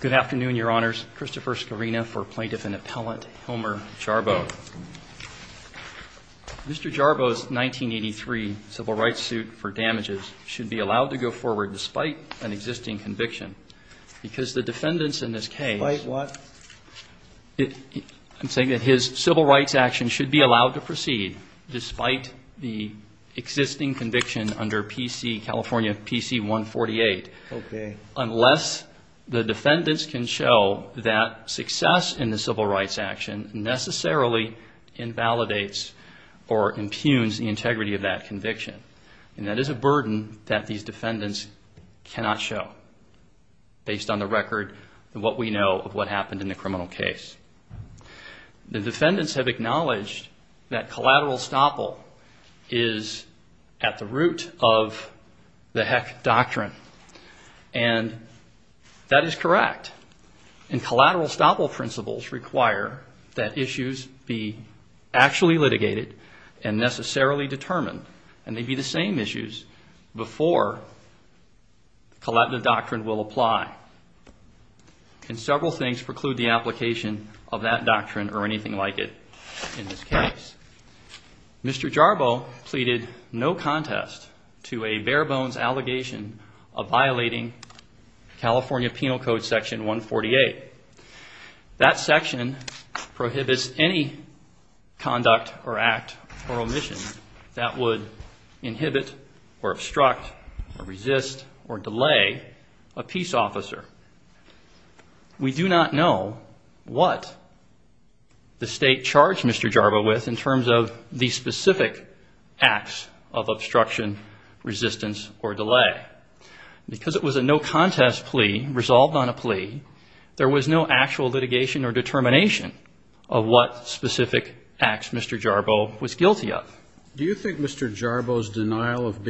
Good afternoon, Your Honors. Christopher Scarina for Plaintiff and Appellant Homer Jarboe. Mr. Jarboe's 1983 civil rights suit for damages should be allowed to go forward despite an existing conviction because the defendants in this case, I'm saying that his civil rights action should be allowed to proceed despite the existing conviction under PC California PC 148 unless the defendants can show that success in the civil rights action necessarily invalidates or impugns the integrity of that conviction and that is a burden that these defendants cannot show based on the record what we know of what happened in the criminal case. The root of the heck doctrine and that is correct and collateral estoppel principles require that issues be actually litigated and necessarily determined and they'd be the same issues before collateral doctrine will apply. Can several things preclude the application of that doctrine or anything like it in this case? Mr. Jarboe pleaded no contest to a bare-bones allegation of violating California Penal Code section 148. That section prohibits any conduct or act or omission that would inhibit or obstruct or resist or delay a peace officer. We do not know what the state charged Mr. Jarboe with in terms of the specific acts of obstruction, resistance, or delay. Because it was a no contest plea resolved on a plea, there was no actual litigation or determination of what specific acts Mr. Jarboe was guilty of. Do you think Mr. Jarboe's denial of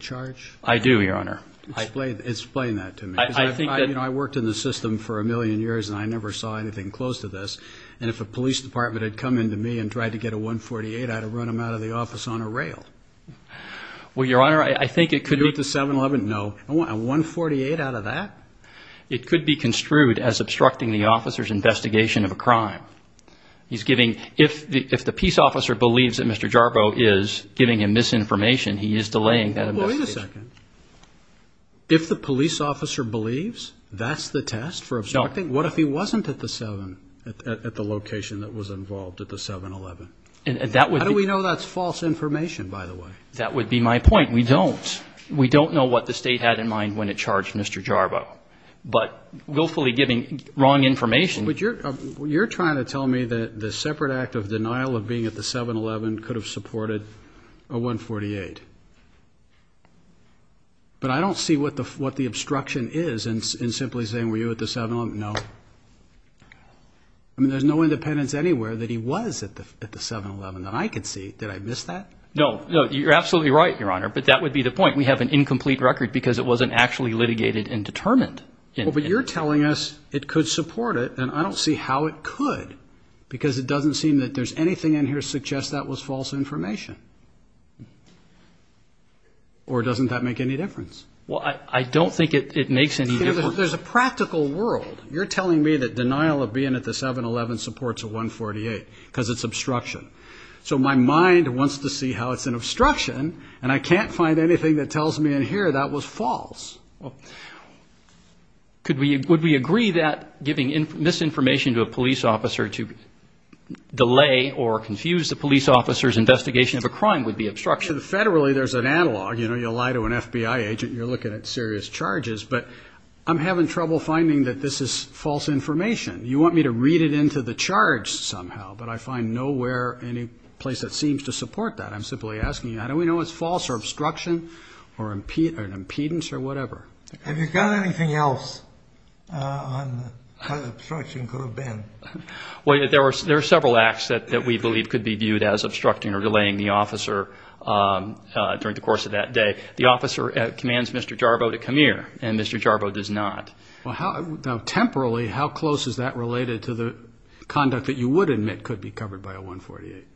charge? I do, Your Honor. Explain that to me. I worked in the system for a million years and I never saw anything close to this. And if a police department had come in to me and tried to get a 148, I'd have run him out of the office on a rail. Well, Your Honor, I think it could be... Could you get the 711? No. A 148 out of that? It could be construed as obstructing the officer's investigation of a crime. He's giving, if the peace officer believes that Mr. Jarboe is giving him misinformation, he is delaying that investigation. Well, wait a second. If the police officer believes that's the test for obstructing, what if he wasn't at the location that was involved at the 711? How do we know that's false information, by the way? That would be my point. We don't. We don't know what the state had in mind when it charged Mr. Jarboe. But willfully giving wrong information... But you're trying to tell me that the separate act of denial of being at the 711 could have supported a 148. But I don't see what the obstruction is in simply saying, were you at the 711? No. I mean, there's no independence anywhere that he was at the 711 that I could see. Did I miss that? No, you're absolutely right, Your Honor. But that would be the point. We have an incomplete record because it wasn't actually litigated and determined. But you're telling us it could support it, and I don't see how it could, because it doesn't seem that there's anything in here that suggests that was false information. Or doesn't that make any difference? Well, I don't think it makes any difference. There's a practical world. You're telling me that denial of being at the 711 supports a 148 because it's obstruction. So my mind wants to see how it's an obstruction, and I can't find anything that tells me in here that was false. Well, would we agree that giving misinformation to a police officer to delay or confuse the police officer's investigation of a crime would be obstruction? You know, you lie to an FBI agent, you're looking at serious charges. But I'm having trouble finding that this is false information. You want me to read it into the charge somehow, but I find nowhere any place that seems to support that. I'm simply asking you, how do we know it's false or obstruction or an impedance or whatever? Have you got anything else on how the obstruction could have been? Well, there are several acts that we believe could be viewed as obstructing or delaying the officer during the course of that day. The officer commands Mr. Jarbo to come here, and Mr. Jarbo does not. Well, now, temporally, how close is that related to the conduct that you would admit could be covered by a 148?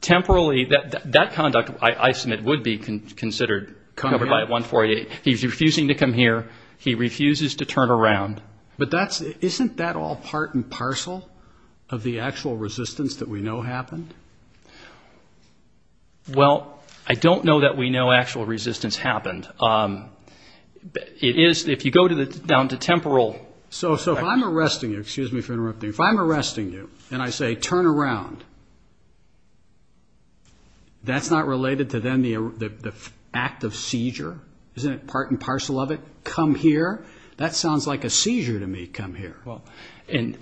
Temporally, that conduct, I submit, would be considered covered by a 148. He's refusing to come here. He refuses to turn around. But isn't that all part and parcel of the actual resistance that we know happened? Well, I don't know that we know actual resistance happened. It is, if you go down to temporal... So if I'm arresting you, excuse me for interrupting, if I'm arresting you and I say, turn around, that's not related to then the act of seizure? Isn't it part and parcel of it? Come here? That sounds like a seizure to me, come here. Well, and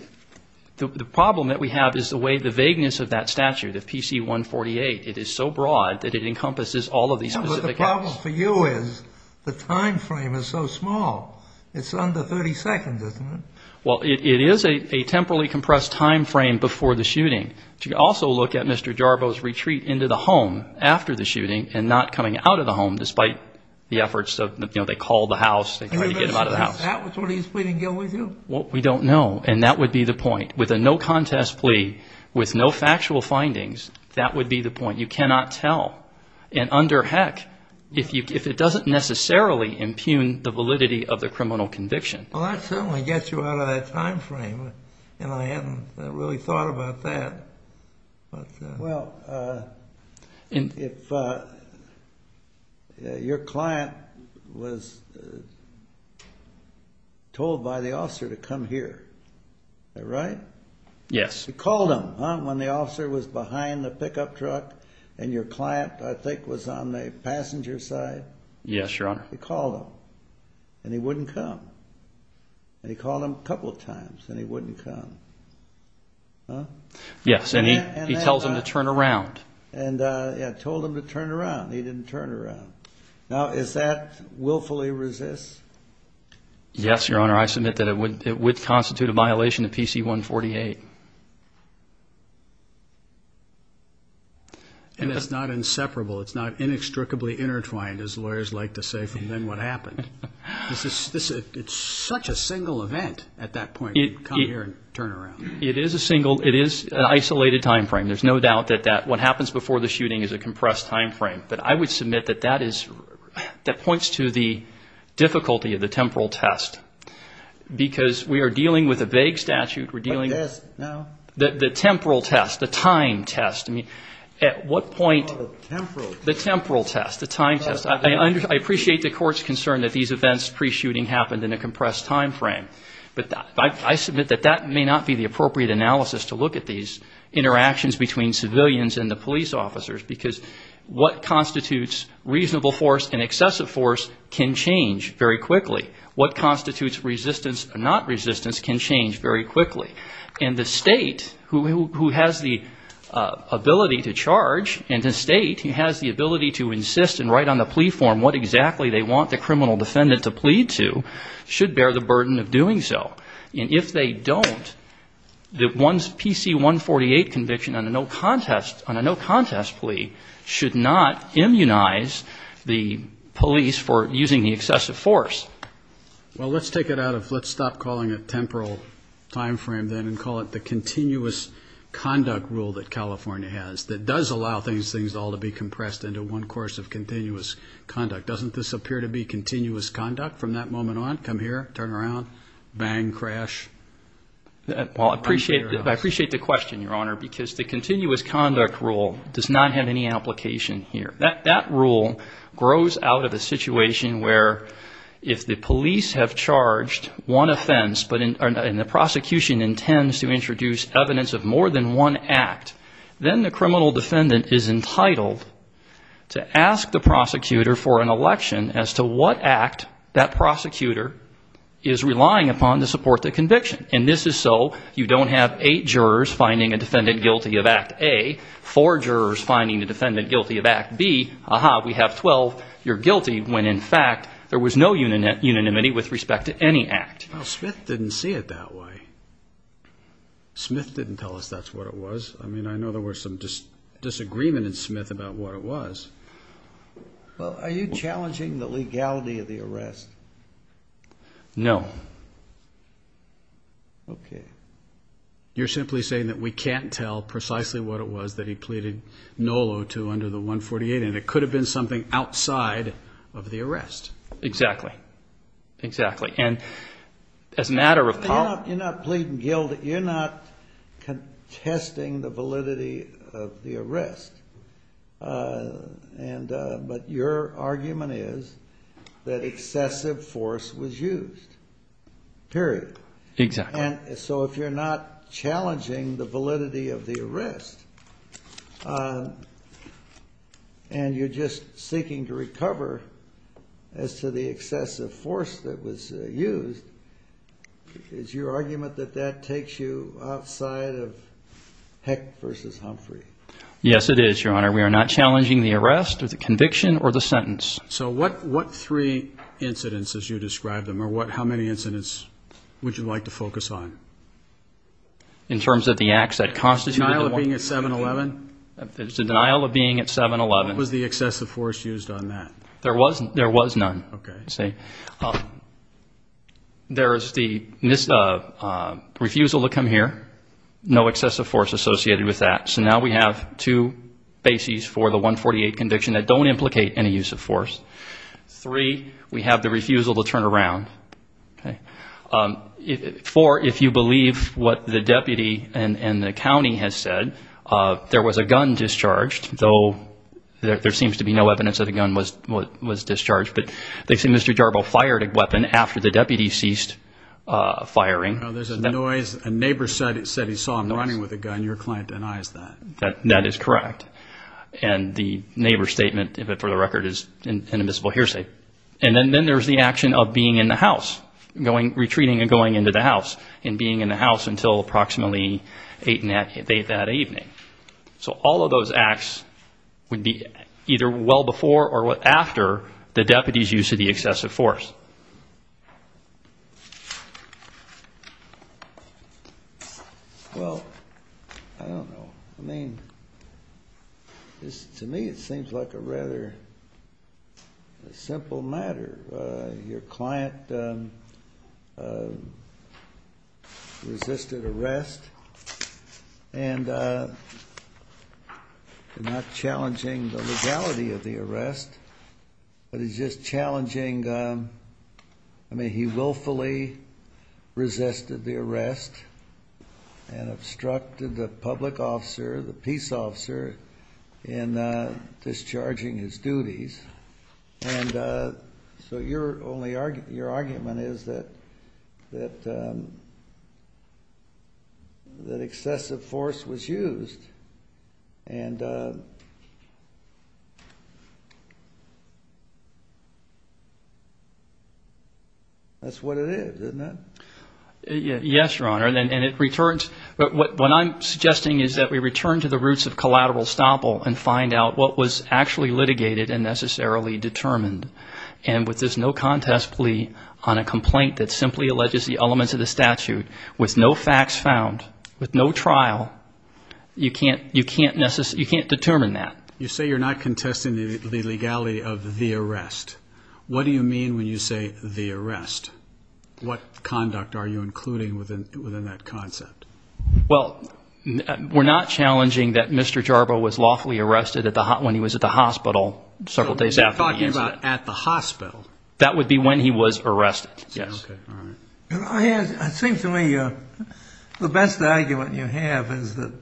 the problem that we have is the way the vagueness of that statute, of PC 148, it is so broad that it encompasses all of these specific acts. The problem for you is the time frame is so small. It's under 30 seconds, isn't it? Well, it is a temporally compressed time frame before the shooting. But you can also look at Mr. Jarbo's retreat into the home after the shooting and not coming out of the home despite the efforts of, you know, they called the house, they tried to get him out of the house. Is that what he's pleading guilty to? Well, we don't know, and that would be the point. With a no contest plea, with no factual findings, that would be the point. You cannot tell, and under heck, if it doesn't necessarily impugn the validity of the criminal conviction. Well, that certainly gets you out of that time frame, and I hadn't really thought about that. Well, if your client was told by the officer to come here, is that right? Yes. He called him, huh, when the officer was behind the pickup truck and your client, I think, was on the passenger side? Yes, Your Honor. He called him, and he wouldn't come. He called him a couple of times, and he wouldn't come. Huh? Yes, and he tells him to turn around. And, yeah, told him to turn around. He didn't turn around. Now, is that willfully resist? Yes, Your Honor. I submit that it would constitute a violation of PC-148. And it's not inseparable. It's not inextricably intertwined, as lawyers like to say, from then what happened. It's such a single event, at that point, to come here and turn around. It is a single, it is an isolated time frame. There's no doubt that what happens before the shooting is a compressed time frame, but I would submit that that is, that points to the difficulty of the temporal test, because we are dealing with a vague statute. We're dealing with the temporal test, the time test. I mean, at what point, the temporal test, the time test. I appreciate the court's concern that these events pre-shooting happened in a compressed time frame, but I submit that that may not be the appropriate analysis to look at these interactions between civilians and the police officers, because what constitutes reasonable force and excessive force can change very quickly. What constitutes resistance and not resistance can change very quickly. And the state, who has the ability to charge, and the state has the ability to insist and write on the plea form what exactly they want the criminal defendant to plead to, should bear the burden of doing so. And if they don't, the PC-148 conviction on a no contest plea should not immunize the police for using the excessive force. Well, let's take it out of, let's stop calling it temporal time frame then and call it the continuous conduct rule that California has that does allow these things all to be compressed into one course of continuous conduct. Doesn't this appear to be continuous conduct from that moment on? Come here, turn around, bang, crash? Well, I appreciate the question, Your Honor, because the continuous conduct rule does not have any application here. That rule grows out of a situation where if the police have charged one offense and the prosecution intends to introduce evidence of more than one act, then the criminal defendant is entitled to ask the prosecutor for an election as to what act that prosecutor is relying upon to support the conviction. And this is so you don't have eight jurors finding a defendant guilty of Act A, four jurors finding a defendant guilty of Act B. Aha, we have 12. You're guilty when, in fact, there was no unanimity with respect to any act. Well, Smith didn't see it that way. Smith didn't tell us that's what it was. I mean, I know there was some disagreement in Smith about what it was. Well, are you challenging the legality of the arrest? No. Okay. You're simply saying that we can't tell precisely what it was that he pleaded no-lo to under the 148, and it could have been something outside of the arrest. Exactly, exactly. You're not pleading guilty. You're not contesting the validity of the arrest, but your argument is that excessive force was used, period. Exactly. And so if you're not challenging the validity of the arrest and you're just seeking to recover as to the excessive force that was used, is your argument that that takes you outside of Heck v. Humphrey? Yes, it is, Your Honor. We are not challenging the arrest or the conviction or the sentence. So what three incidents as you describe them, or how many incidents would you like to focus on? In terms of the acts that constituted the one? Denial of being at 7-11? There's a denial of being at 7-11. What was the excessive force used on that? There was none. Okay. There is the refusal to come here, no excessive force associated with that. So now we have two bases for the 148 conviction that don't implicate any use of force. Three, we have the refusal to turn around. Four, if you believe what the deputy and the county has said, there was a gun discharged, though there seems to be no evidence that a gun was discharged, but they say Mr. Jarbo fired a weapon after the deputy ceased firing. There's a noise. A neighbor said he saw him running with a gun. Your client denies that. That is correct. And the neighbor's statement, for the record, is an admissible hearsay. And then there's the action of being in the house, retreating and going into the house and being in the house until approximately 8 that evening. So all of those acts would be either well before or after the deputy's use of the excessive force. Well, I don't know. I mean, to me it seems like a rather simple matter. Your client resisted arrest and not challenging the legality of the arrest, but is just challenging, I mean, he willfully resisted the arrest and obstructed the public officer, the peace officer, in discharging his duties. And so your argument is that excessive force was used. And that's what it is, isn't it? Yes, Your Honor, and it returns. What I'm suggesting is that we return to the roots of collateral estoppel and find out what was actually litigated and necessarily determined. And with this no contest plea on a complaint that simply alleges the elements of the statute, with no facts found, with no trial, you can't determine that. You say you're not contesting the legality of the arrest. What do you mean when you say the arrest? What conduct are you including within that concept? Well, we're not challenging that Mr. Jarba was lawfully arrested when he was at the hospital several days after the incident. You're talking about at the hospital. That would be when he was arrested, yes. Okay, all right. It seems to me the best argument you have is that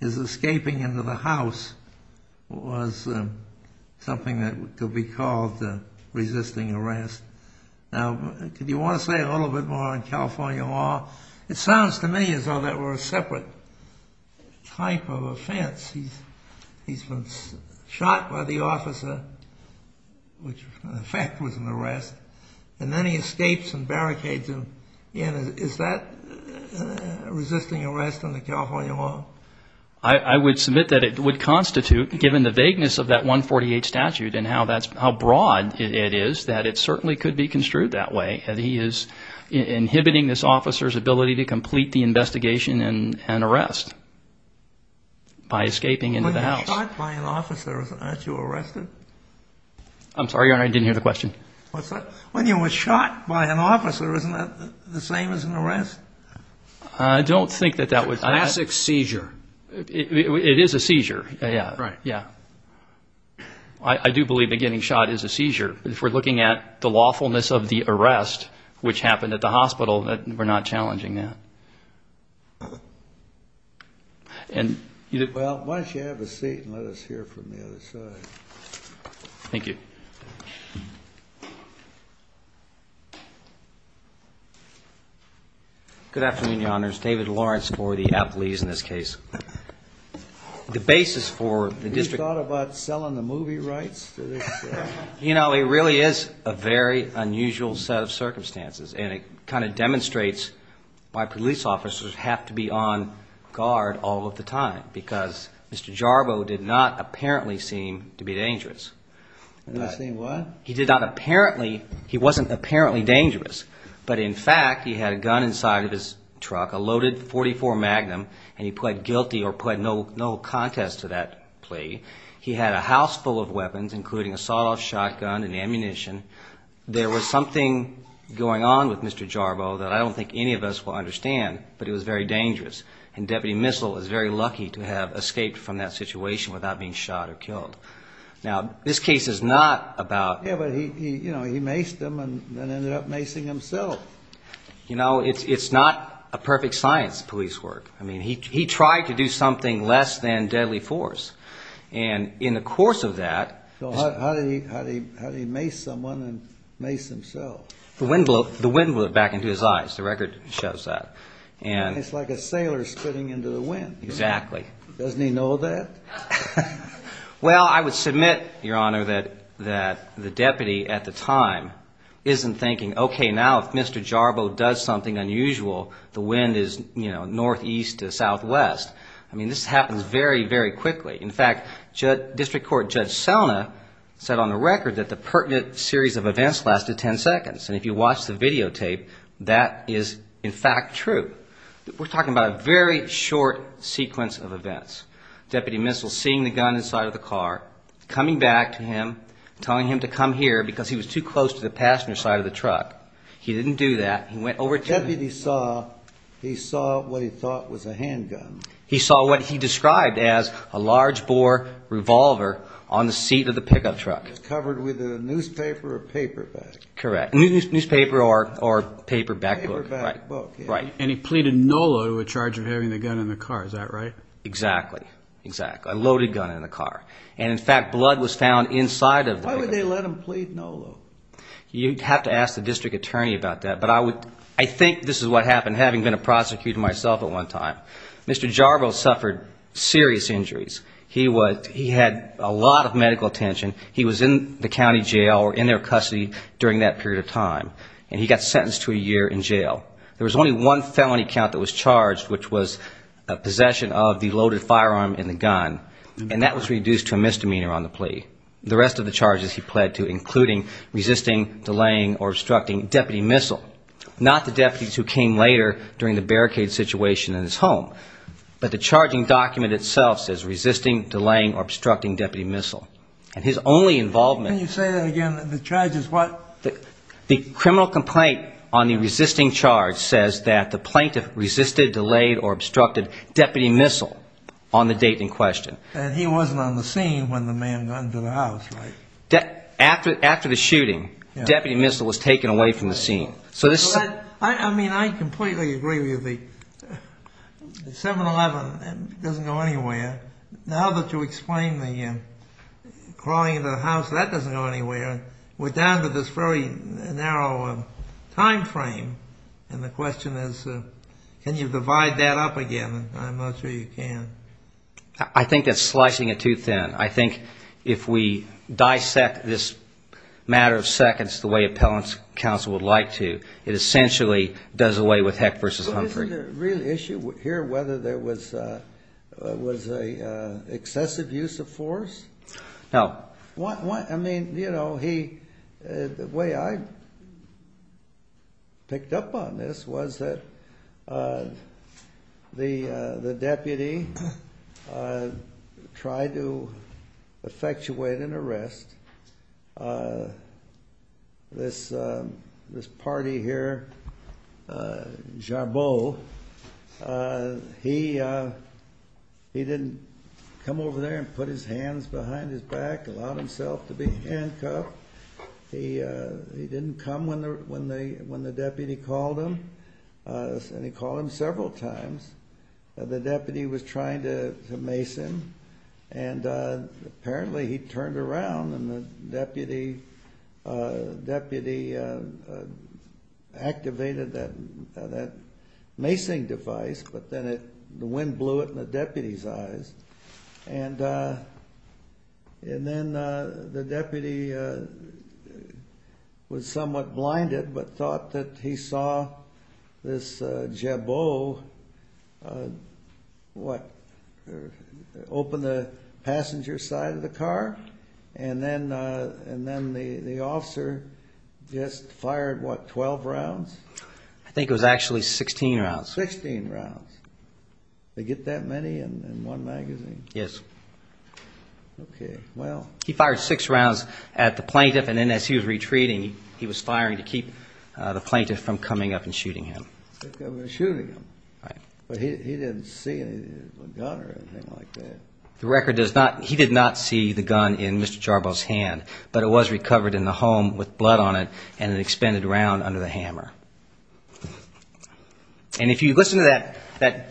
his escaping into the house was something that could be called resisting arrest. Now, do you want to say a little bit more on California law? It sounds to me as though that were a separate type of offense. He's been shot by the officer, which in effect was an arrest, and then he escapes and barricades him. Is that resisting arrest under California law? I would submit that it would constitute, given the vagueness of that 148 statute and how broad it is, that it certainly could be construed that way. He is inhibiting this officer's ability to complete the investigation and arrest by escaping into the house. When you're shot by an officer, aren't you arrested? I'm sorry, Your Honor, I didn't hear the question. When you were shot by an officer, isn't that the same as an arrest? I don't think that that was. It's a classic seizure. It is a seizure, yeah. Right. Yeah. I do believe that getting shot is a seizure. If we're looking at the lawfulness of the arrest, which happened at the hospital, we're not challenging that. Well, why don't you have a seat and let us hear from the other side. Thank you. Good afternoon, Your Honors. David Lawrence for the athletes in this case. The basis for the district. Have you thought about selling the movie rights? You know, it really is a very unusual set of circumstances, and it kind of demonstrates why police officers have to be on guard all of the time, because Mr. Jarbo did not apparently seem to be dangerous. Did he seem what? He did not apparently. He wasn't apparently dangerous. But, in fact, he had a gun inside of his truck, a loaded .44 Magnum, and he pled guilty or pled no contest to that plea. He had a house full of weapons, including a sawed-off shotgun and ammunition. There was something going on with Mr. Jarbo that I don't think any of us will understand, but it was very dangerous, and Deputy Missel is very lucky to have escaped from that situation without being shot or killed. Now, this case is not about... Yeah, but he, you know, he maced him and then ended up macing himself. You know, it's not a perfect science, police work. I mean, he tried to do something less than deadly force. And in the course of that... How did he mace someone and mace himself? The wind blew it back into his eyes. The record shows that. It's like a sailor spitting into the wind. Exactly. Doesn't he know that? Well, I would submit, Your Honor, that the deputy at the time isn't thinking, okay, now if Mr. Jarbo does something unusual, the wind is northeast to southwest. I mean, this happens very, very quickly. In fact, District Court Judge Selna said on the record that the pertinent series of events lasted 10 seconds. And if you watch the videotape, that is in fact true. We're talking about a very short sequence of events. Deputy Missel seeing the gun inside of the car, coming back to him, telling him to come here because he was too close to the passenger side of the truck. He didn't do that. He went over to... The deputy saw... He saw what he thought was a handgun. He saw what he described as a large-bore revolver on the seat of the pickup truck. It was covered with a newspaper or paperback. Correct. Newspaper or paperback. Paperback book. Right. And he pleaded no load with charge of having the gun in the car. Is that right? Exactly. Exactly. A loaded gun in the car. And, in fact, blood was found inside of the... Why would they let him plead no load? You'd have to ask the district attorney about that. But I think this is what happened, having been a prosecutor myself at one time. Mr. Jarboe suffered serious injuries. He had a lot of medical attention. He was in the county jail or in their custody during that period of time, and he got sentenced to a year in jail. There was only one felony count that was charged, which was possession of the loaded firearm in the gun, and that was reduced to a misdemeanor on the plea. The rest of the charges he pled to, including resisting, delaying, or obstructing deputy missile, not the deputies who came later during the barricade situation in his home, but the charging document itself says resisting, delaying, or obstructing deputy missile. And his only involvement... Can you say that again? The charge is what? The criminal complaint on the resisting charge says that the plaintiff resisted, delayed, or obstructed deputy missile on the date in question. And he wasn't on the scene when the man got into the house, right? After the shooting, deputy missile was taken away from the scene. So this is... I mean, I completely agree with you. The 7-11 doesn't go anywhere. Now that you explain the crawling into the house, that doesn't go anywhere. We're down to this very narrow time frame, and the question is can you divide that up again? I'm not sure you can. I think that's slicing it too thin. I think if we dissect this matter of seconds the way appellant's counsel would like to, it essentially does away with Heck v. Humphrey. But isn't the real issue here whether there was an excessive use of force? No. I mean, you know, he... The way I picked up on this was that the deputy tried to effectuate an arrest. This party here, Jabot, he didn't come over there and put his hands behind his back, allowed himself to be handcuffed. He didn't come when the deputy called him, and he called him several times. The deputy was trying to mace him, and apparently he turned around and the deputy activated that macing device, but then the wind blew it in the deputy's eyes. And then the deputy was somewhat blinded, but thought that he saw this Jabot open the passenger side of the car, and then the officer just fired, what, 12 rounds? I think it was actually 16 rounds. Sixteen rounds. They get that many in one magazine? Yes. Okay, well... He fired six rounds at the plaintiff, and then as he was retreating, he was firing to keep the plaintiff from coming up and shooting him. Shooting him. Right. But he didn't see a gun or anything like that. The record does not... He did not see the gun in Mr. Jabot's hand, but it was recovered in the home with blood on it and an expended round under the hammer. And if you listen to that...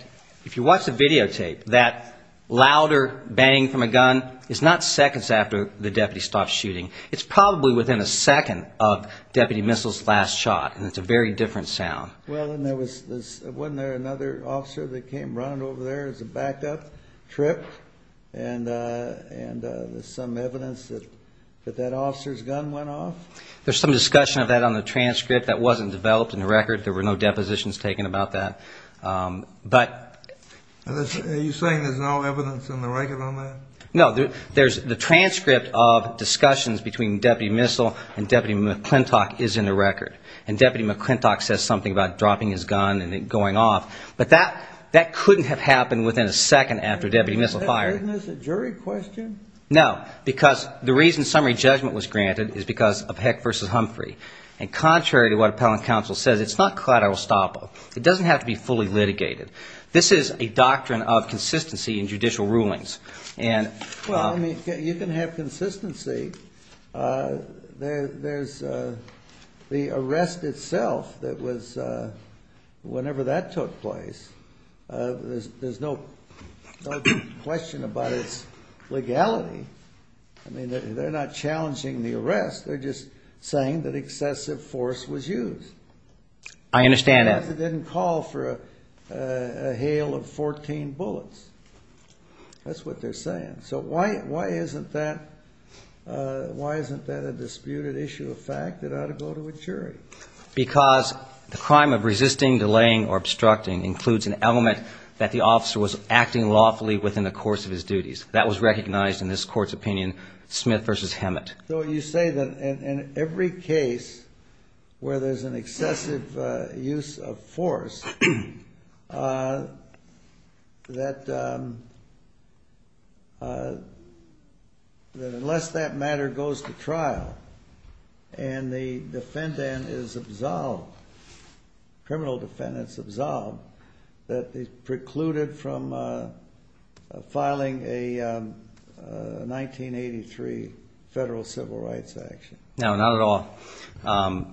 If you watch the videotape, that louder bang from a gun is not seconds after the deputy stopped shooting. It's probably within a second of Deputy Missile's last shot, and it's a very different sound. Well, and there was this... Wasn't there another officer that came running over there as a backup, tripped, and there's some evidence that that officer's gun went off? There's some discussion of that on the transcript. That wasn't developed in the record. There were no depositions taken about that, but... Are you saying there's no evidence in the record on that? No, there's... The transcript of discussions between Deputy Missile and Deputy McClintock is in the record, and Deputy McClintock says something about dropping his gun and it going off, but that couldn't have happened within a second after Deputy Missile fired. Isn't this a jury question? No, because the reason summary judgment was granted is because of Heck v. Humphrey, and contrary to what Appellant Counsel says, it's not collateral estoppel. It doesn't have to be fully litigated. This is a doctrine of consistency in judicial rulings, and... Well, I mean, you can have consistency. There's the arrest itself that was, whenever that took place, there's no question about its legality. I mean, they're not challenging the arrest. They're just saying that excessive force was used. I understand that. But that means it didn't call for a hail of 14 bullets. That's what they're saying. So why isn't that a disputed issue of fact? It ought to go to a jury. Because the crime of resisting, delaying, or obstructing includes an element that the officer was acting lawfully within the course of his duties. So you say that in every case where there's an excessive use of force, that unless that matter goes to trial and the defendant is absolved, criminal defendant is absolved, that they precluded from filing a 1983 federal civil rights action. No, not at all.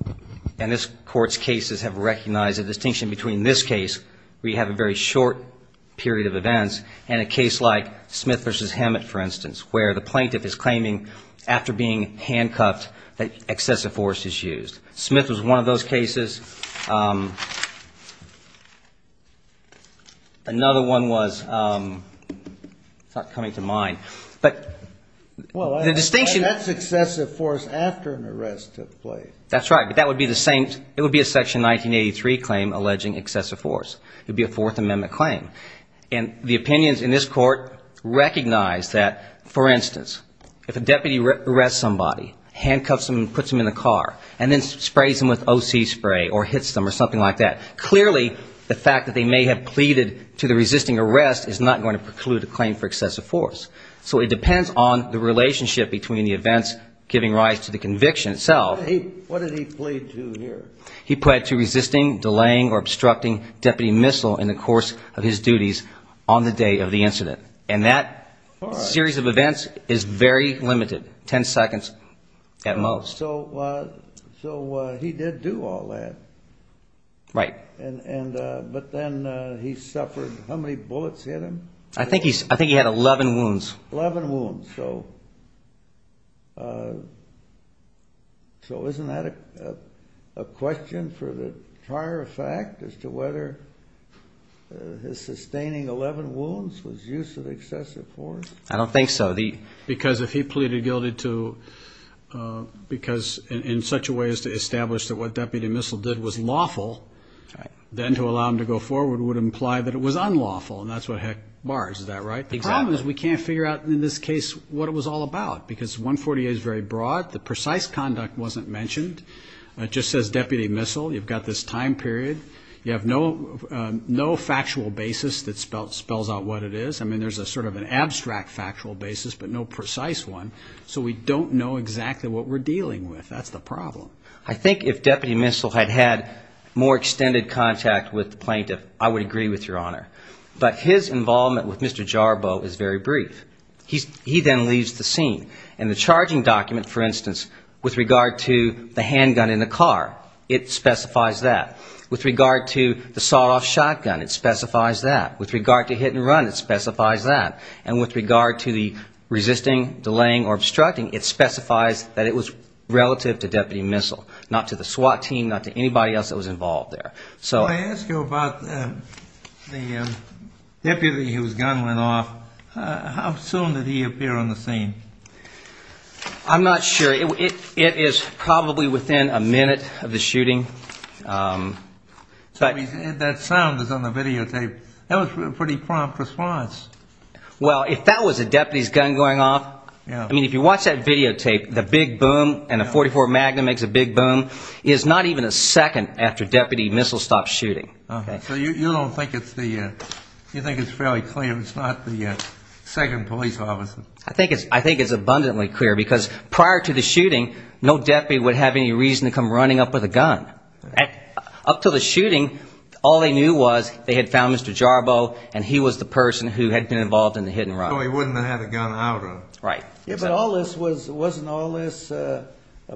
And this Court's cases have recognized a distinction between this case, where you have a very short period of events, and a case like Smith v. Hammett, for instance, where the plaintiff is claiming, after being handcuffed, that excessive force is used. Smith was one of those cases. Another one was not coming to mind. But the distinction... Well, that's excessive force after an arrest took place. That's right, but that would be the same. It would be a Section 1983 claim alleging excessive force. It would be a Fourth Amendment claim. And the opinions in this Court recognize that, for instance, if a deputy arrests somebody, handcuffs them and puts them in a car, and then sprays them with O.C. spray or hits them or something like that, clearly the fact that they may have pleaded to the resisting arrest is not going to preclude a claim for excessive force. So it depends on the relationship between the events giving rise to the conviction itself. What did he plead to here? He pleaded to resisting, delaying, or obstructing deputy missile in the course of his duties on the day of the incident. And that series of events is very limited, 10 seconds at most. So he did do all that. Right. But then he suffered how many bullets hit him? I think he had 11 wounds. 11 wounds. So isn't that a question for the prior effect as to whether his sustaining 11 wounds was use of excessive force? I don't think so. Because if he pleaded guilty to, because in such a way as to establish that what deputy missile did was lawful, then to allow him to go forward would imply that it was unlawful, and that's what heck bars, is that right? Exactly. The problem is we can't figure out in this case what it was all about, because 148 is very broad. The precise conduct wasn't mentioned. It just says deputy missile. You've got this time period. You have no factual basis that spells out what it is. I mean, there's a sort of an abstract factual basis, but no precise one. So we don't know exactly what we're dealing with. That's the problem. I think if deputy missile had had more extended contact with the plaintiff, I would agree with Your Honor. But his involvement with Mr. Jarboe is very brief. He then leaves the scene. And the charging document, for instance, with regard to the handgun in the car, it specifies that. With regard to the sawed-off shotgun, it specifies that. With regard to hit and run, it specifies that. And with regard to the resisting, delaying, or obstructing, it specifies that it was relative to deputy missile, not to the SWAT team, not to anybody else that was involved there. Well, I asked you about the deputy whose gun went off. How soon did he appear on the scene? I'm not sure. It is probably within a minute of the shooting. That sound is on the videotape. That was a pretty prompt response. Well, if that was a deputy's gun going off, I mean, if you watch that videotape, the big boom and a .44 Magnum makes a big boom, is not even a second after deputy missile stopped shooting. So you don't think it's the, you think it's fairly clear it's not the second police officer? I think it's abundantly clear, because prior to the shooting, no deputy would have any reason to come running up with a gun. Up to the shooting, all they knew was they had found Mr. Jarboe, and he was the person who had been involved in the hit and run. So he wouldn't have had a gun out of him. But wasn't all this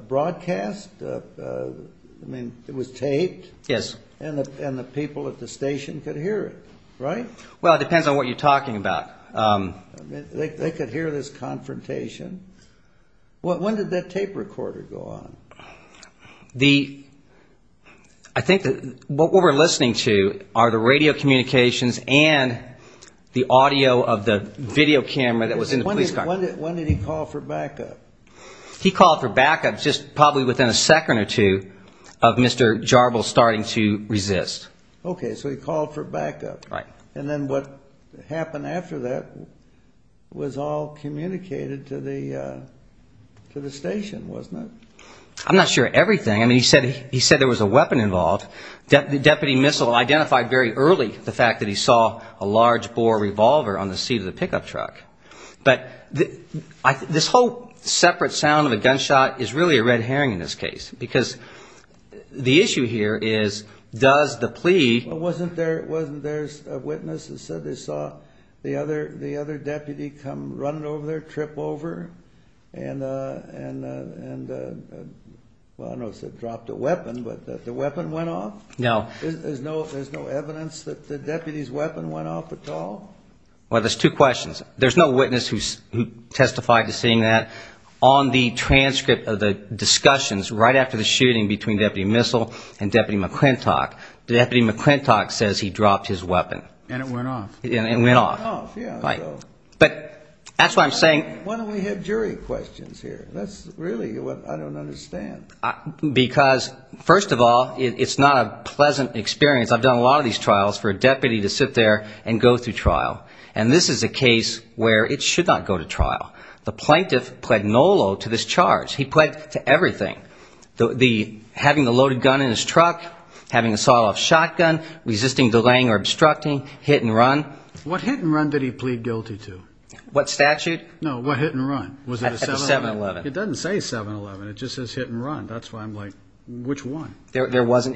broadcast? I mean, it was taped. Yes. And the people at the station could hear it, right? Well, it depends on what you're talking about. They could hear this confrontation. When did that tape recorder go on? I think what we're listening to are the radio communications and the audio of the video camera that was in the police car. When did he call for backup? He called for backup just probably within a second or two of Mr. Jarboe starting to resist. Okay, so he called for backup. Right. And then what happened after that was all communicated to the station, wasn't it? I'm not sure everything. I mean, he said there was a weapon involved. The deputy missile identified very early the fact that he saw a large-bore revolver on the seat of the pickup truck. But this whole separate sound of a gunshot is really a red herring in this case, because the issue here is, does the plea— Wasn't there a witness that said they saw the other deputy come running over there, trip over, and, well, I know it said dropped a weapon, but the weapon went off? No. There's no evidence that the deputy's weapon went off at all? Well, there's two questions. There's no witness who testified to seeing that on the transcript of the discussions right after the shooting between Deputy Missile and Deputy McClintock. Deputy McClintock says he dropped his weapon. And it went off. And it went off. Right. But that's why I'm saying— Why don't we have jury questions here? That's really what I don't understand. Because, first of all, it's not a pleasant experience. I've done a lot of these trials for a deputy to sit there and go through trial. And this is a case where it should not go to trial. The plaintiff pled NOLO to this charge. He pled to everything. Having the loaded gun in his truck, having a sawed-off shotgun, resisting delaying or obstructing, hit and run. What hit and run did he plead guilty to? What statute? No, what hit and run? At the 7-Eleven. It doesn't say 7-Eleven. It just says hit and run. That's why I'm like, which one? There was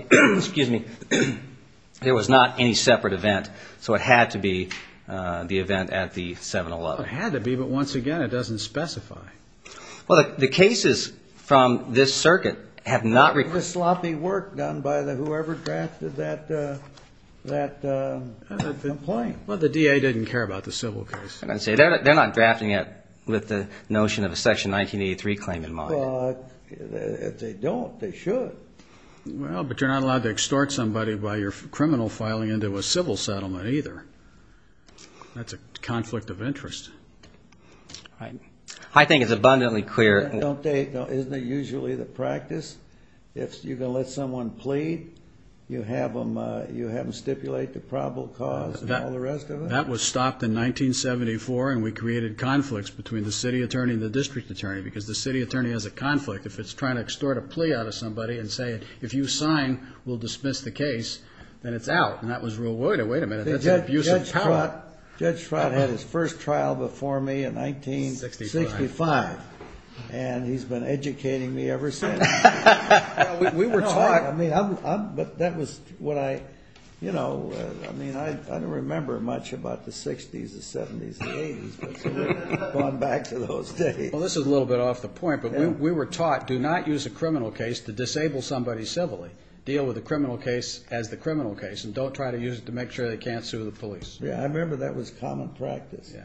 not any separate event, so it had to be the event at the 7-Eleven. It had to be, but once again it doesn't specify. Well, the cases from this circuit have not required It was sloppy work done by whoever drafted that complaint. Well, the DA didn't care about the civil case. They're not drafting it with the notion of a Section 1983 claim in mind. Well, if they don't, they should. Well, but you're not allowed to extort somebody by your criminal filing into a civil settlement either. That's a conflict of interest. I think it's abundantly clear. Isn't it usually the practice, if you're going to let someone plead, you have them stipulate the probable cause and all the rest of it? That was stopped in 1974, and we created conflicts between the city attorney and the district attorney because the city attorney has a conflict. If it's trying to extort a plea out of somebody and say, if you sign, we'll dismiss the case, then it's out. And that was rule, wait a minute, that's an abusive power. Judge Trott had his first trial before me in 1965, and he's been educating me ever since. We were taught, I mean, but that was what I, you know, I mean, I don't remember much about the 60s, the 70s, the 80s, but going back to those days. Well, this is a little bit off the point, but we were taught, do not use a criminal case to disable somebody civilly. Deal with the criminal case as the criminal case, and don't try to use it to make sure they can't sue the police. Yeah, I remember that was common practice. Yeah.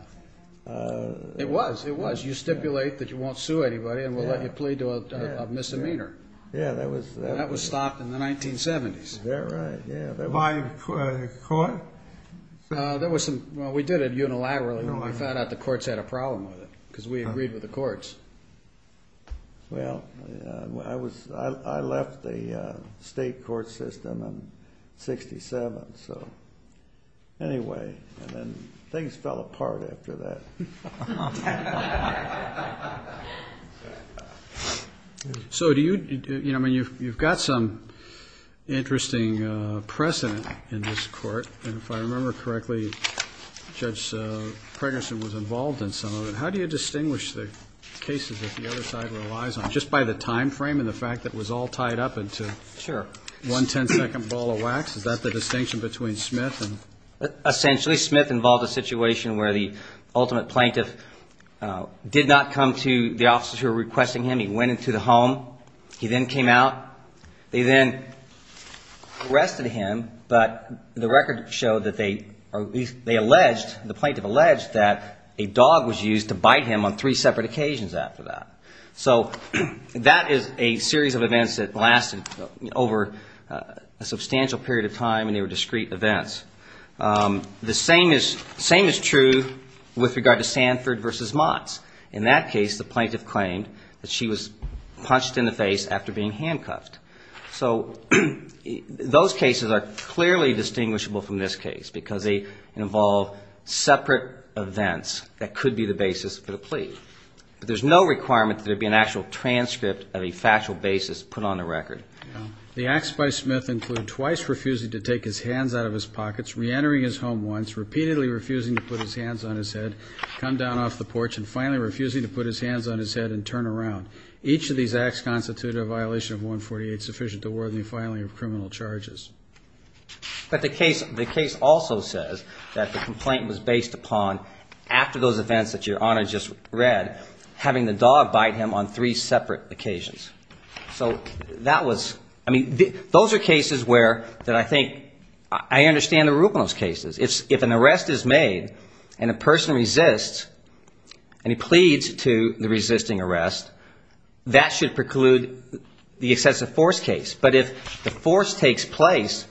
It was, it was. You stipulate that you won't sue anybody and we'll let you plead to a misdemeanor. Yeah, that was. That was stopped in the 1970s. That right, yeah. By the court? There was some, well, we did it unilaterally. We found out the courts had a problem with it because we agreed with the courts. Well, I was, I left the state court system in 67, so anyway, and then things fell apart after that. So do you, you know, I mean, you've got some interesting precedent in this court, and if I remember correctly, Judge Pregnanson was involved in some of it. How do you distinguish the cases that the other side relies on, just by the time frame and the fact that it was all tied up into one ten-second ball of wax? Is that the distinction between Smith and? Essentially, Smith involved a situation where the ultimate plaintiff did not come to the officers who were requesting him. He went into the home. He then came out. They then arrested him, but the record showed that they, they alleged, the plaintiff alleged that a dog was used to bite him on three separate occasions after that. So that is a series of events that lasted over a substantial period of time, and they were discrete events. The same is, same is true with regard to Sanford versus Motts. In that case, the plaintiff claimed that she was punched in the face after being handcuffed. So those cases are clearly distinguishable from this case, because they involve separate events that could be the basis for the plea. But there's no requirement that there be an actual transcript of a factual basis put on the record. The acts by Smith include twice refusing to take his hands out of his pockets, reentering his home once, repeatedly refusing to put his hands on his head, come down off the porch, and finally refusing to put his hands on his head and turn around. Each of these acts constitute a violation of 148 sufficient to warrant the filing of criminal charges. But the case, the case also says that the complaint was based upon, after those events that Your Honor just read, having the dog bite him on three separate occasions. So that was, I mean, those are cases where, that I think, I understand the root of those cases. If an arrest is made and a person resists and he pleads to the resisting arrest, that should preclude the excessive force case. But if the force takes place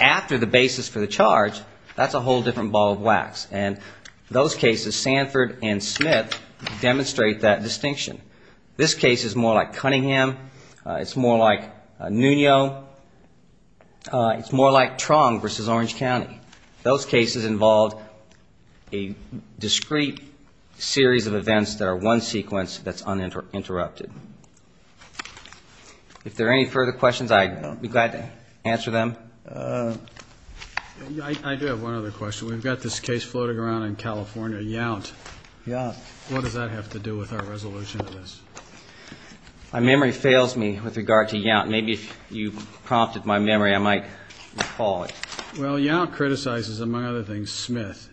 after the basis for the charge, that's a whole different ball of wax. And those cases, Sanford and Smith, demonstrate that distinction. This case is more like Cunningham. It's more like Nuno. It's more like Tron versus Orange County. Those cases involved a discrete series of events that are one sequence that's uninterrupted. If there are any further questions, I'd be glad to answer them. I do have one other question. We've got this case floating around in California, Yount. What does that have to do with our resolution to this? My memory fails me with regard to Yount. Maybe if you prompted my memory, I might recall it. Well, Yount criticizes, among other things, Smith.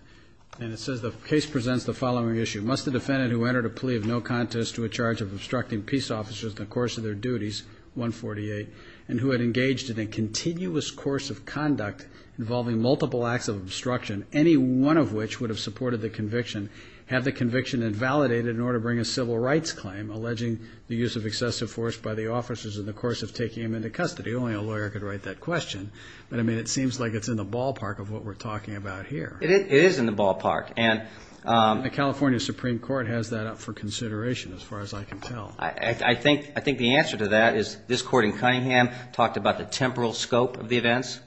And it says the case presents the following issue. Must the defendant who entered a plea of no contest to a charge of obstructing peace officers in the course of their duties, 148, and who had engaged in a continuous course of conduct involving multiple acts of obstruction, any one of which would have supported the conviction, have the conviction invalidated in order to bring a civil rights claim, including the use of excessive force by the officers in the course of taking him into custody? Only a lawyer could write that question. But, I mean, it seems like it's in the ballpark of what we're talking about here. It is in the ballpark. And the California Supreme Court has that up for consideration, as far as I can tell. I think the answer to that is this court in Cunningham talked about the temporal scope of the events.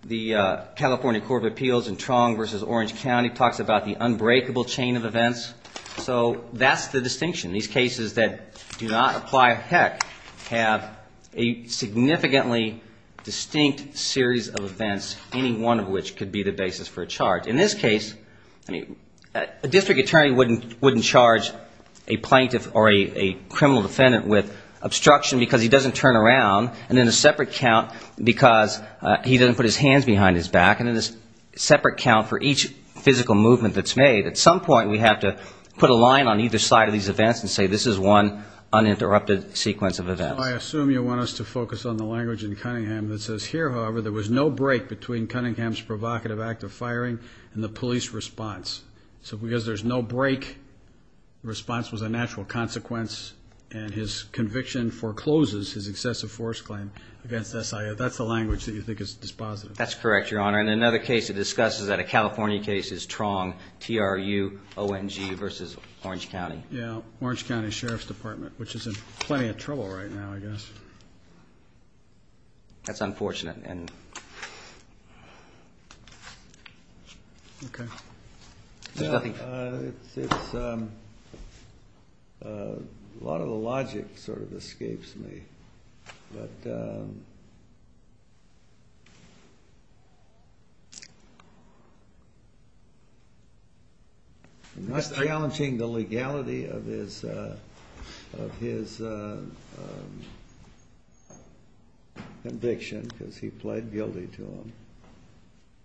The California Court of Appeals in Tron versus Orange County talks about the unbreakable chain of events. So that's the distinction. These cases that do not apply a heck have a significantly distinct series of events, any one of which could be the basis for a charge. In this case, a district attorney wouldn't charge a plaintiff or a criminal defendant with obstruction because he doesn't turn around. And then a separate count because he doesn't put his hands behind his back. And then a separate count for each physical movement that's made. At some point, we have to put a line on either side of these events and say, this is one uninterrupted sequence of events. I assume you want us to focus on the language in Cunningham that says, here, however, there was no break between Cunningham's provocative act of firing and the police response. So because there's no break, the response was a natural consequence, and his conviction forecloses his excessive force claim. That's the language that you think is dispositive. That's correct, Your Honor. And another case to discuss is that a California case is Tron, T-R-U-O-N-G versus Orange County. Yeah, Orange County Sheriff's Department, which is in plenty of trouble right now, I guess. That's unfortunate. Okay. A lot of the logic sort of escapes me. And that's challenging the legality of his conviction, because he was a police officer. He pled guilty to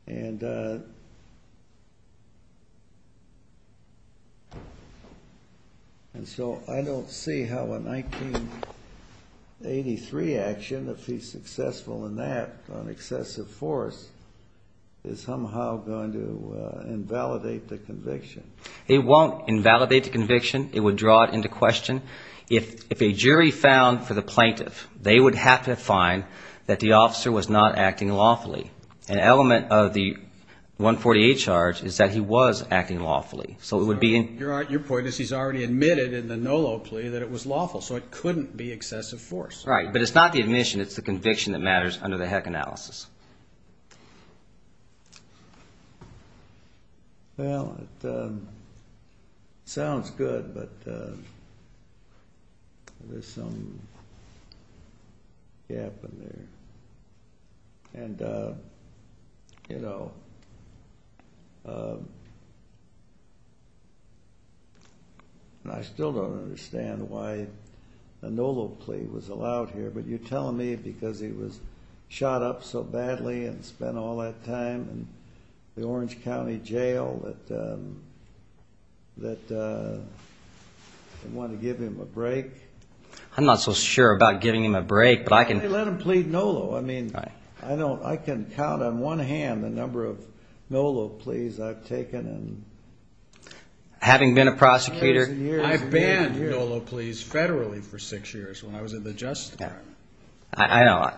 them. And so I don't see how a 1983 action, if he's successful in that on excessive force, is somehow going to invalidate the conviction. It won't invalidate the conviction. It would draw it into question. If a jury found for the plaintiff, they would have to find that the officer was not acting lawfully. An element of the 148 charge is that he was acting lawfully. Your point is he's already admitted in the NOLO plea that it was lawful, so it couldn't be excessive force. Right. But it's not the admission. It's the conviction that matters under the HEC analysis. Well, it sounds good, but there's some gap in there. And, you know, I still don't understand why a NOLO plea was allowed here, but you're telling me because he was shot up so badly and spent all that time in the Orange County Jail that they wanted to give him a break? I'm not so sure about giving him a break, but I can... Let him plead NOLO. I mean, I can count on one hand the number of NOLO pleas I've taken. Having been a prosecutor... I know.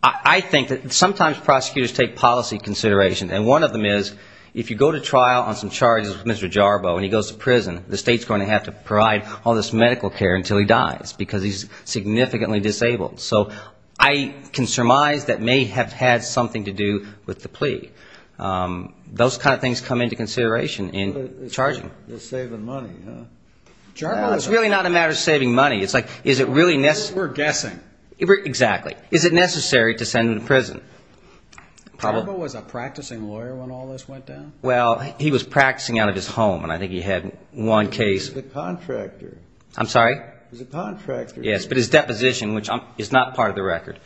I think that sometimes prosecutors take policy consideration, and one of them is if you go to trial on some charges with Mr. Jarbo and he goes to prison, the state's going to have to provide all this medical care until he dies, because he's significantly disabled. So I can surmise that may have had something to do with the plea. Those kind of things come into consideration in charging. Well, it's really not a matter of saving money. We're guessing. Exactly. Is it necessary to send him to prison? Jarbo was a practicing lawyer when all this went down? Well, he was practicing out of his home, and I think he had one case... He was a contractor. Yes, but his deposition, which is not part of the record,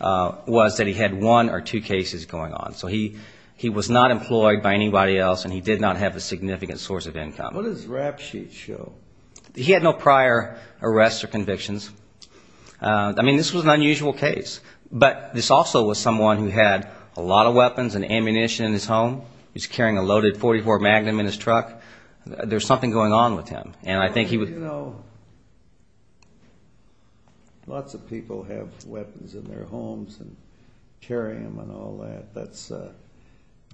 was that he had one or two cases going on. So he was not employed by anybody else, and he did not have a significant source of income. What does his rap sheet show? He had no prior arrests or convictions. I mean, this was an unusual case. But this also was someone who had a lot of weapons and ammunition in his home. He was carrying a loaded .44 Magnum in his truck. There was something going on with him. Lots of people have weapons in their homes and carry them and all that.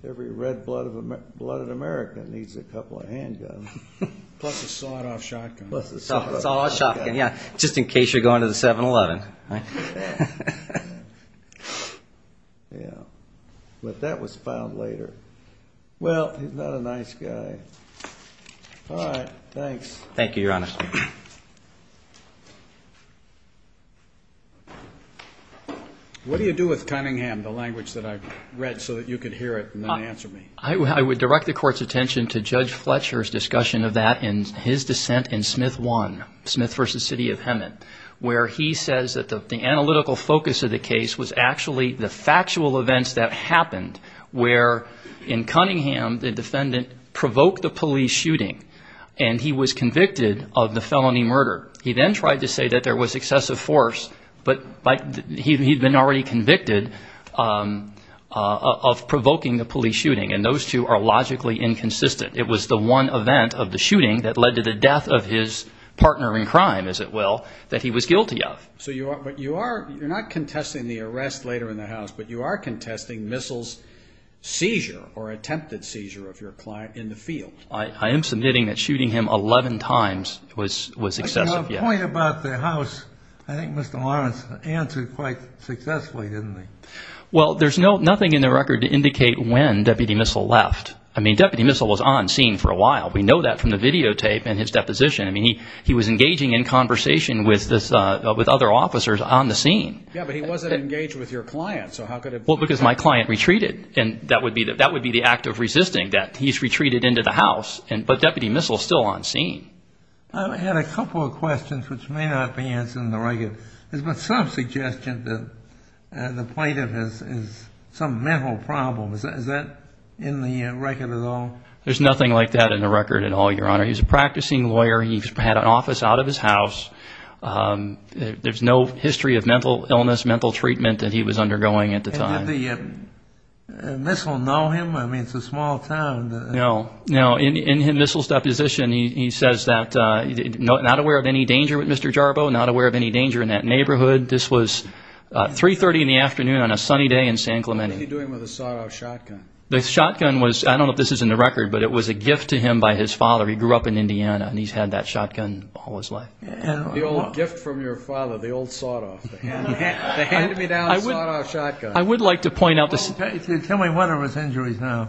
Every red-blooded American needs a couple of handguns. Plus a sawed-off shotgun. But that was filed later. Well, he's not a nice guy. Thank you, Your Honor. What do you do with Cunningham, the language that I read, so that you could hear it and then answer me? I would direct the Court's attention to Judge Fletcher's discussion of that and his dissent in Smith v. City of Hemet, where he says that the analytical focus of the case was actually the factual events that happened, where in Cunningham the defendant provoked a police shooting, and he was convicted of the felony murder. He then tried to say that there was excessive force, but he had been already convicted of provoking the police shooting, and those two are logically inconsistent. It was the one event of the shooting that led to the death of his partner in crime, as it will, that he was guilty of. But you're not contesting the arrest later in the house, but you are contesting Missle's seizure or attempted seizure of your client in the field. I am submitting that shooting him 11 times was excessive, yes. But to my point about the house, I think Mr. Lawrence answered quite successfully, didn't he? Well, there's nothing in the record to indicate when Deputy Missle left. I mean, Deputy Missle was on scene for a while. We know that from the videotape and his deposition. I mean, he was engaging in conversation with other officers on the scene. Yeah, but he wasn't engaged with your client, so how could it be? Because my client retreated, and that would be the act of resisting that he's retreated into the house, but Deputy Missle's still on scene. I had a couple of questions which may not be answered in the record. There's been some suggestion that the plaintiff has some mental problem. Is that in the record at all? There's nothing like that in the record at all, Your Honor. He was a practicing lawyer. He had an office out of his house. There's no history of mental illness, mental treatment that he was undergoing at the time. And did Missle know him? I mean, it's a small town. No, no. In Missle's deposition, he says that not aware of any danger with Mr. Jarbo, not aware of any danger in that neighborhood. This was 3.30 in the afternoon on a sunny day in San Clemente. What was he doing with a sawed-off shotgun? The shotgun was, I don't know if this is in the record, but it was a gift to him by his father. He grew up in Indiana and he's had that shotgun all his life. The old gift from your father, the old sawed-off, the hand-me-down sawed-off shotgun. Tell me what of his injuries now.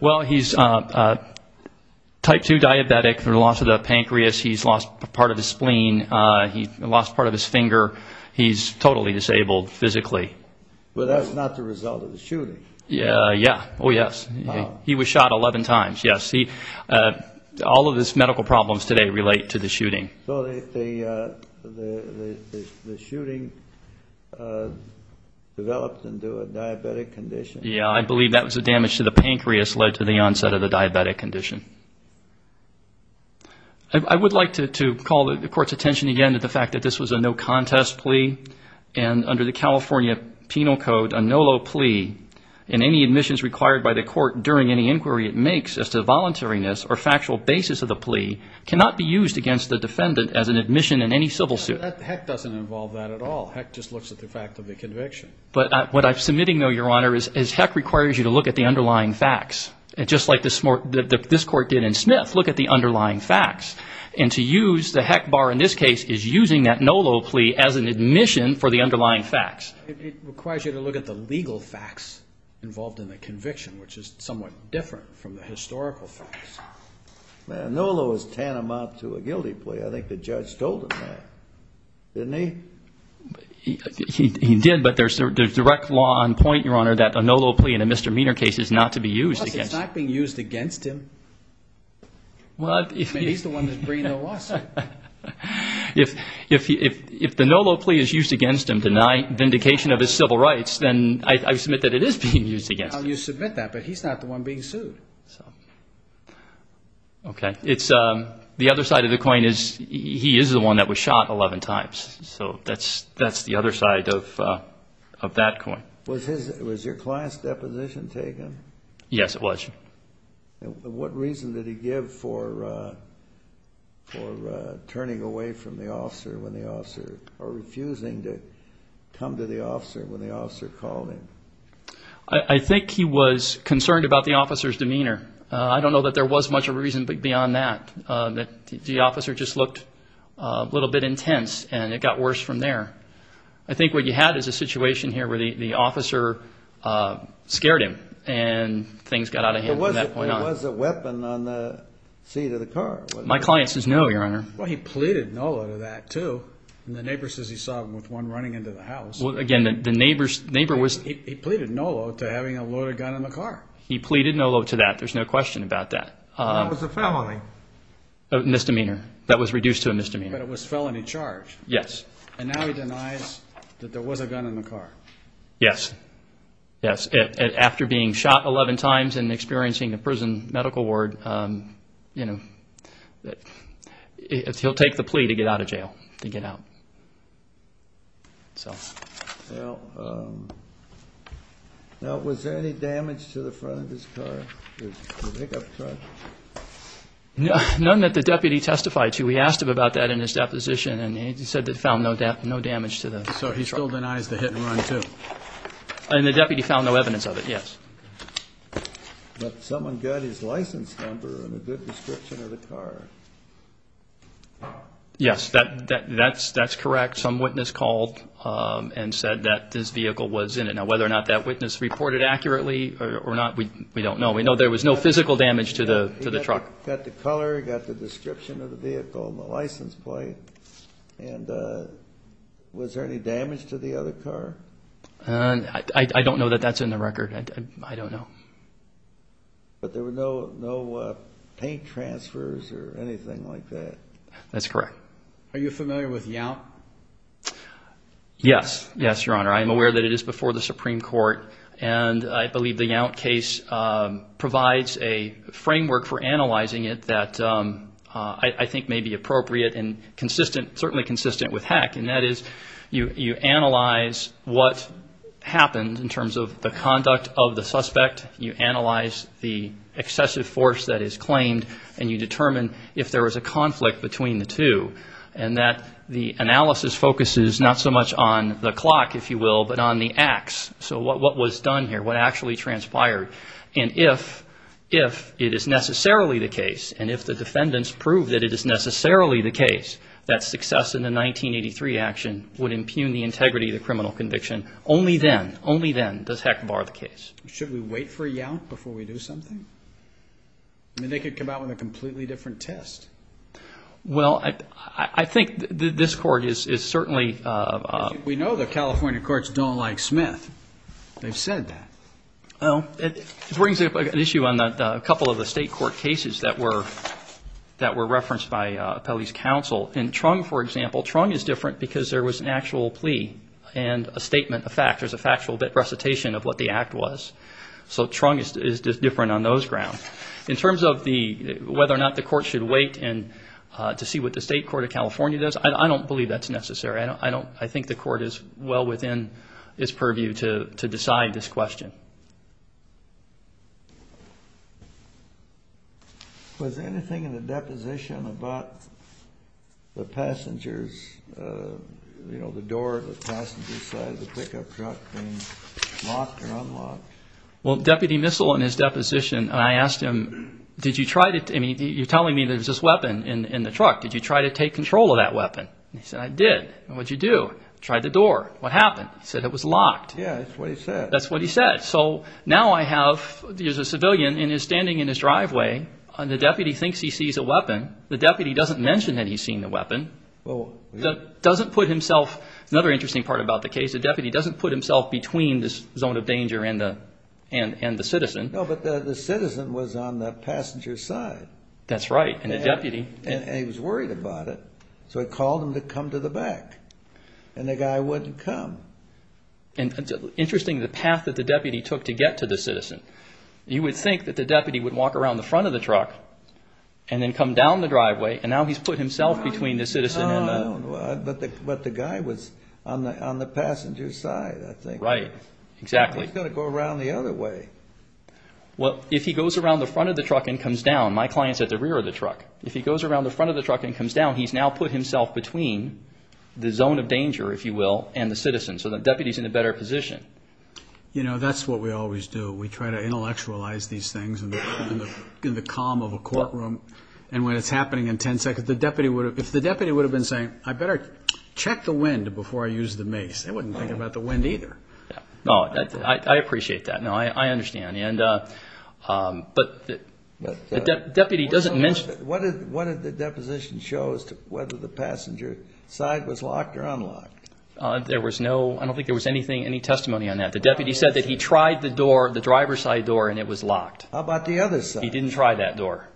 Well, he's type 2 diabetic from the loss of the pancreas. He's lost part of his spleen. He lost part of his finger. He's totally disabled physically. Well, that's not the result of the shooting. Yeah, yeah. Oh, yes. He was shot 11 times, yes. All of his medical problems today relate to the shooting. So the shooting developed into a diabetic condition? Yeah, I believe that was the damage to the pancreas led to the onset of the diabetic condition. I would like to call the Court's attention again to the fact that this was a no-contest plea, and under the California Penal Code, a no-law plea, and any admissions required by the Court during any inquiry it makes as to voluntariness or factual basis of the plea, cannot be used against the defendant as an admission in any civil suit. Heck doesn't involve that at all. Heck just looks at the fact of the conviction. But what I'm submitting, though, Your Honor, is heck requires you to look at the underlying facts. Just like this Court did in Smith, look at the underlying facts. And to use the heck bar in this case is using that no-law plea as an admission for the underlying facts. It requires you to look at the legal facts involved in the conviction, which is somewhat different from the historical facts. Man, a no-law is tantamount to a guilty plea. I think the judge told him that, didn't he? He did, but there's direct law on point, Your Honor, that a no-law plea in a Mr. Meener case is not to be used against him. Well, it's not being used against him. I mean, he's the one that's bringing the lawsuit. If the no-law plea is used against him to deny vindication of his civil rights, then I submit that it is being used against him. You submit that, but he's not the one being sued. Okay. The other side of the coin is he is the one that was shot 11 times. So that's the other side of that coin. Was your client's deposition taken? Yes, it was. And what reason did he give for turning away from the officer when the officer, or refusing to come to the officer when the officer called him? I think he was concerned about the officer's demeanor. I don't know that there was much of a reason beyond that. The officer just looked a little bit intense, and it got worse from there. I think what you had is a situation here where the officer scared him, and things got out of hand. Was there a weapon on the seat of the car? My client says no, Your Honor. Well, he pleaded no-law to that, too. He pleaded no-law to that. There's no question about that. That was a felony? Yes. And now he denies that there was a gun in the car? Yes. After being shot 11 times and experiencing the prison medical ward, he'll take the plea to get out of jail. Was there any damage to the front of his car? None that the deputy testified to. We asked him about that in his deposition, and he said that he found no damage to the front. So he still denies the hit-and-run, too? And the deputy found no evidence of it, yes. But someone got his license number and a good description of the car. Yes, that's correct. Some witness called and said that this vehicle was in it. Now, whether or not that witness reported accurately or not, we don't know. We know there was no physical damage to the truck. He got the color, he got the description of the vehicle and the license plate. And was there any damage to the other car? I don't know that that's in the record. I don't know. But there were no paint transfers or anything like that? That's correct. Are you familiar with Yount? Yes, Your Honor. I am aware that it is before the Supreme Court. And I believe the Yount case provides a framework for analyzing it that I think may be appropriate and consistent, certainly consistent with Heck. And that is you analyze what happened in terms of the conduct of the suspect. You analyze the excessive force that is claimed, and you determine if there was a conflict between the two. And that the analysis focuses not so much on the clock, if you will, but on the acts. So what was done here, what actually transpired. And if it is necessarily the case, and if the defendants prove that it is necessarily the case, that success in the 1983 action would impugn the integrity of the criminal conviction. Only then, only then does Heck bar the case. Should we wait for Yount before we do something? I mean, they could come out with a completely different test. Well, I think this Court is certainly... We know the California courts don't like Smith. They've said that. Well, it brings up an issue on a couple of the state court cases that were referenced by Appellee's Counsel. In Trung, for example, Trung is different because there was an actual plea and a statement, a fact. There's a factual recitation of what the act was. So Trung is different on those grounds. In terms of whether or not the Court should wait to see what the state court of California does, I don't believe that's necessary. I think the Court is well within its purview to decide this question. Was anything in the deposition about the passenger's, you know, the door of the passenger's side of the pickup truck being locked or unlocked? Well, Deputy Missell, in his deposition, I asked him, did you try to... I mean, you're telling me there's this weapon in the truck. Did you try to take control of that weapon? And he said, I did. And what did you do? Tried the door. What happened? He said it was locked. Yeah, that's what he said. That's what he said. So now I have, there's a civilian and he's standing in his driveway and the deputy thinks he sees a weapon. The deputy doesn't mention that he's seen the weapon. Doesn't put himself, another interesting part about the case, the deputy doesn't put himself between the zone of danger and the citizen. No, but the citizen was on the passenger's side. That's right. And the deputy... And he was worried about it, so he called him to come to the back. And the guy wouldn't come. Interesting, the path that the deputy took to get to the citizen. You would think that the deputy would walk around the front of the truck and then come down the driveway and now he's put himself between the citizen and the... Well, if he goes around the front of the truck and comes down, my client's at the rear of the truck. If he goes around the front of the truck and comes down, he's now put himself between the zone of danger, if you will, and the citizen. So the deputy's in a better position. You know, that's what we always do. We try to intellectualize these things in the calm of a courtroom. And when it's happening in 10 seconds, the deputy would have, if the deputy would have been saying, I better check the wind before I use the mace, they wouldn't think about the wind either. No, I appreciate that. No, I understand. What did the deposition show as to whether the passenger side was locked or unlocked? I don't think there was any testimony on that. The deputy said that he tried the driver's side door and it was locked. How about the other side? He didn't try that door.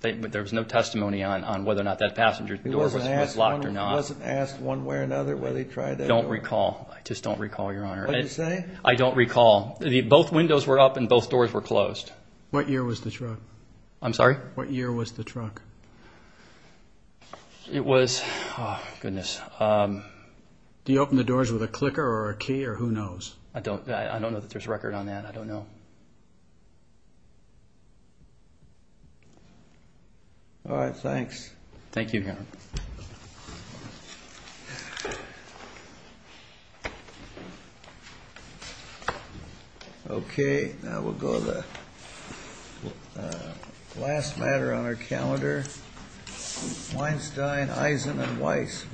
There was no testimony on whether or not that passenger door was locked or not. He wasn't asked one way or another whether he tried that door? I don't recall. I just don't recall, Your Honor. What did you say? I don't recall. Both windows were up and both doors were closed. What year was the truck? It was, oh, goodness. Do you open the doors with a clicker or a key or who knows? I don't know that there's a record on that. I don't know. All right, thanks. Thank you, Your Honor. Okay, now we'll go to the last matter on our calendar. Weinstein, Eisen, and Weiss v. Gill.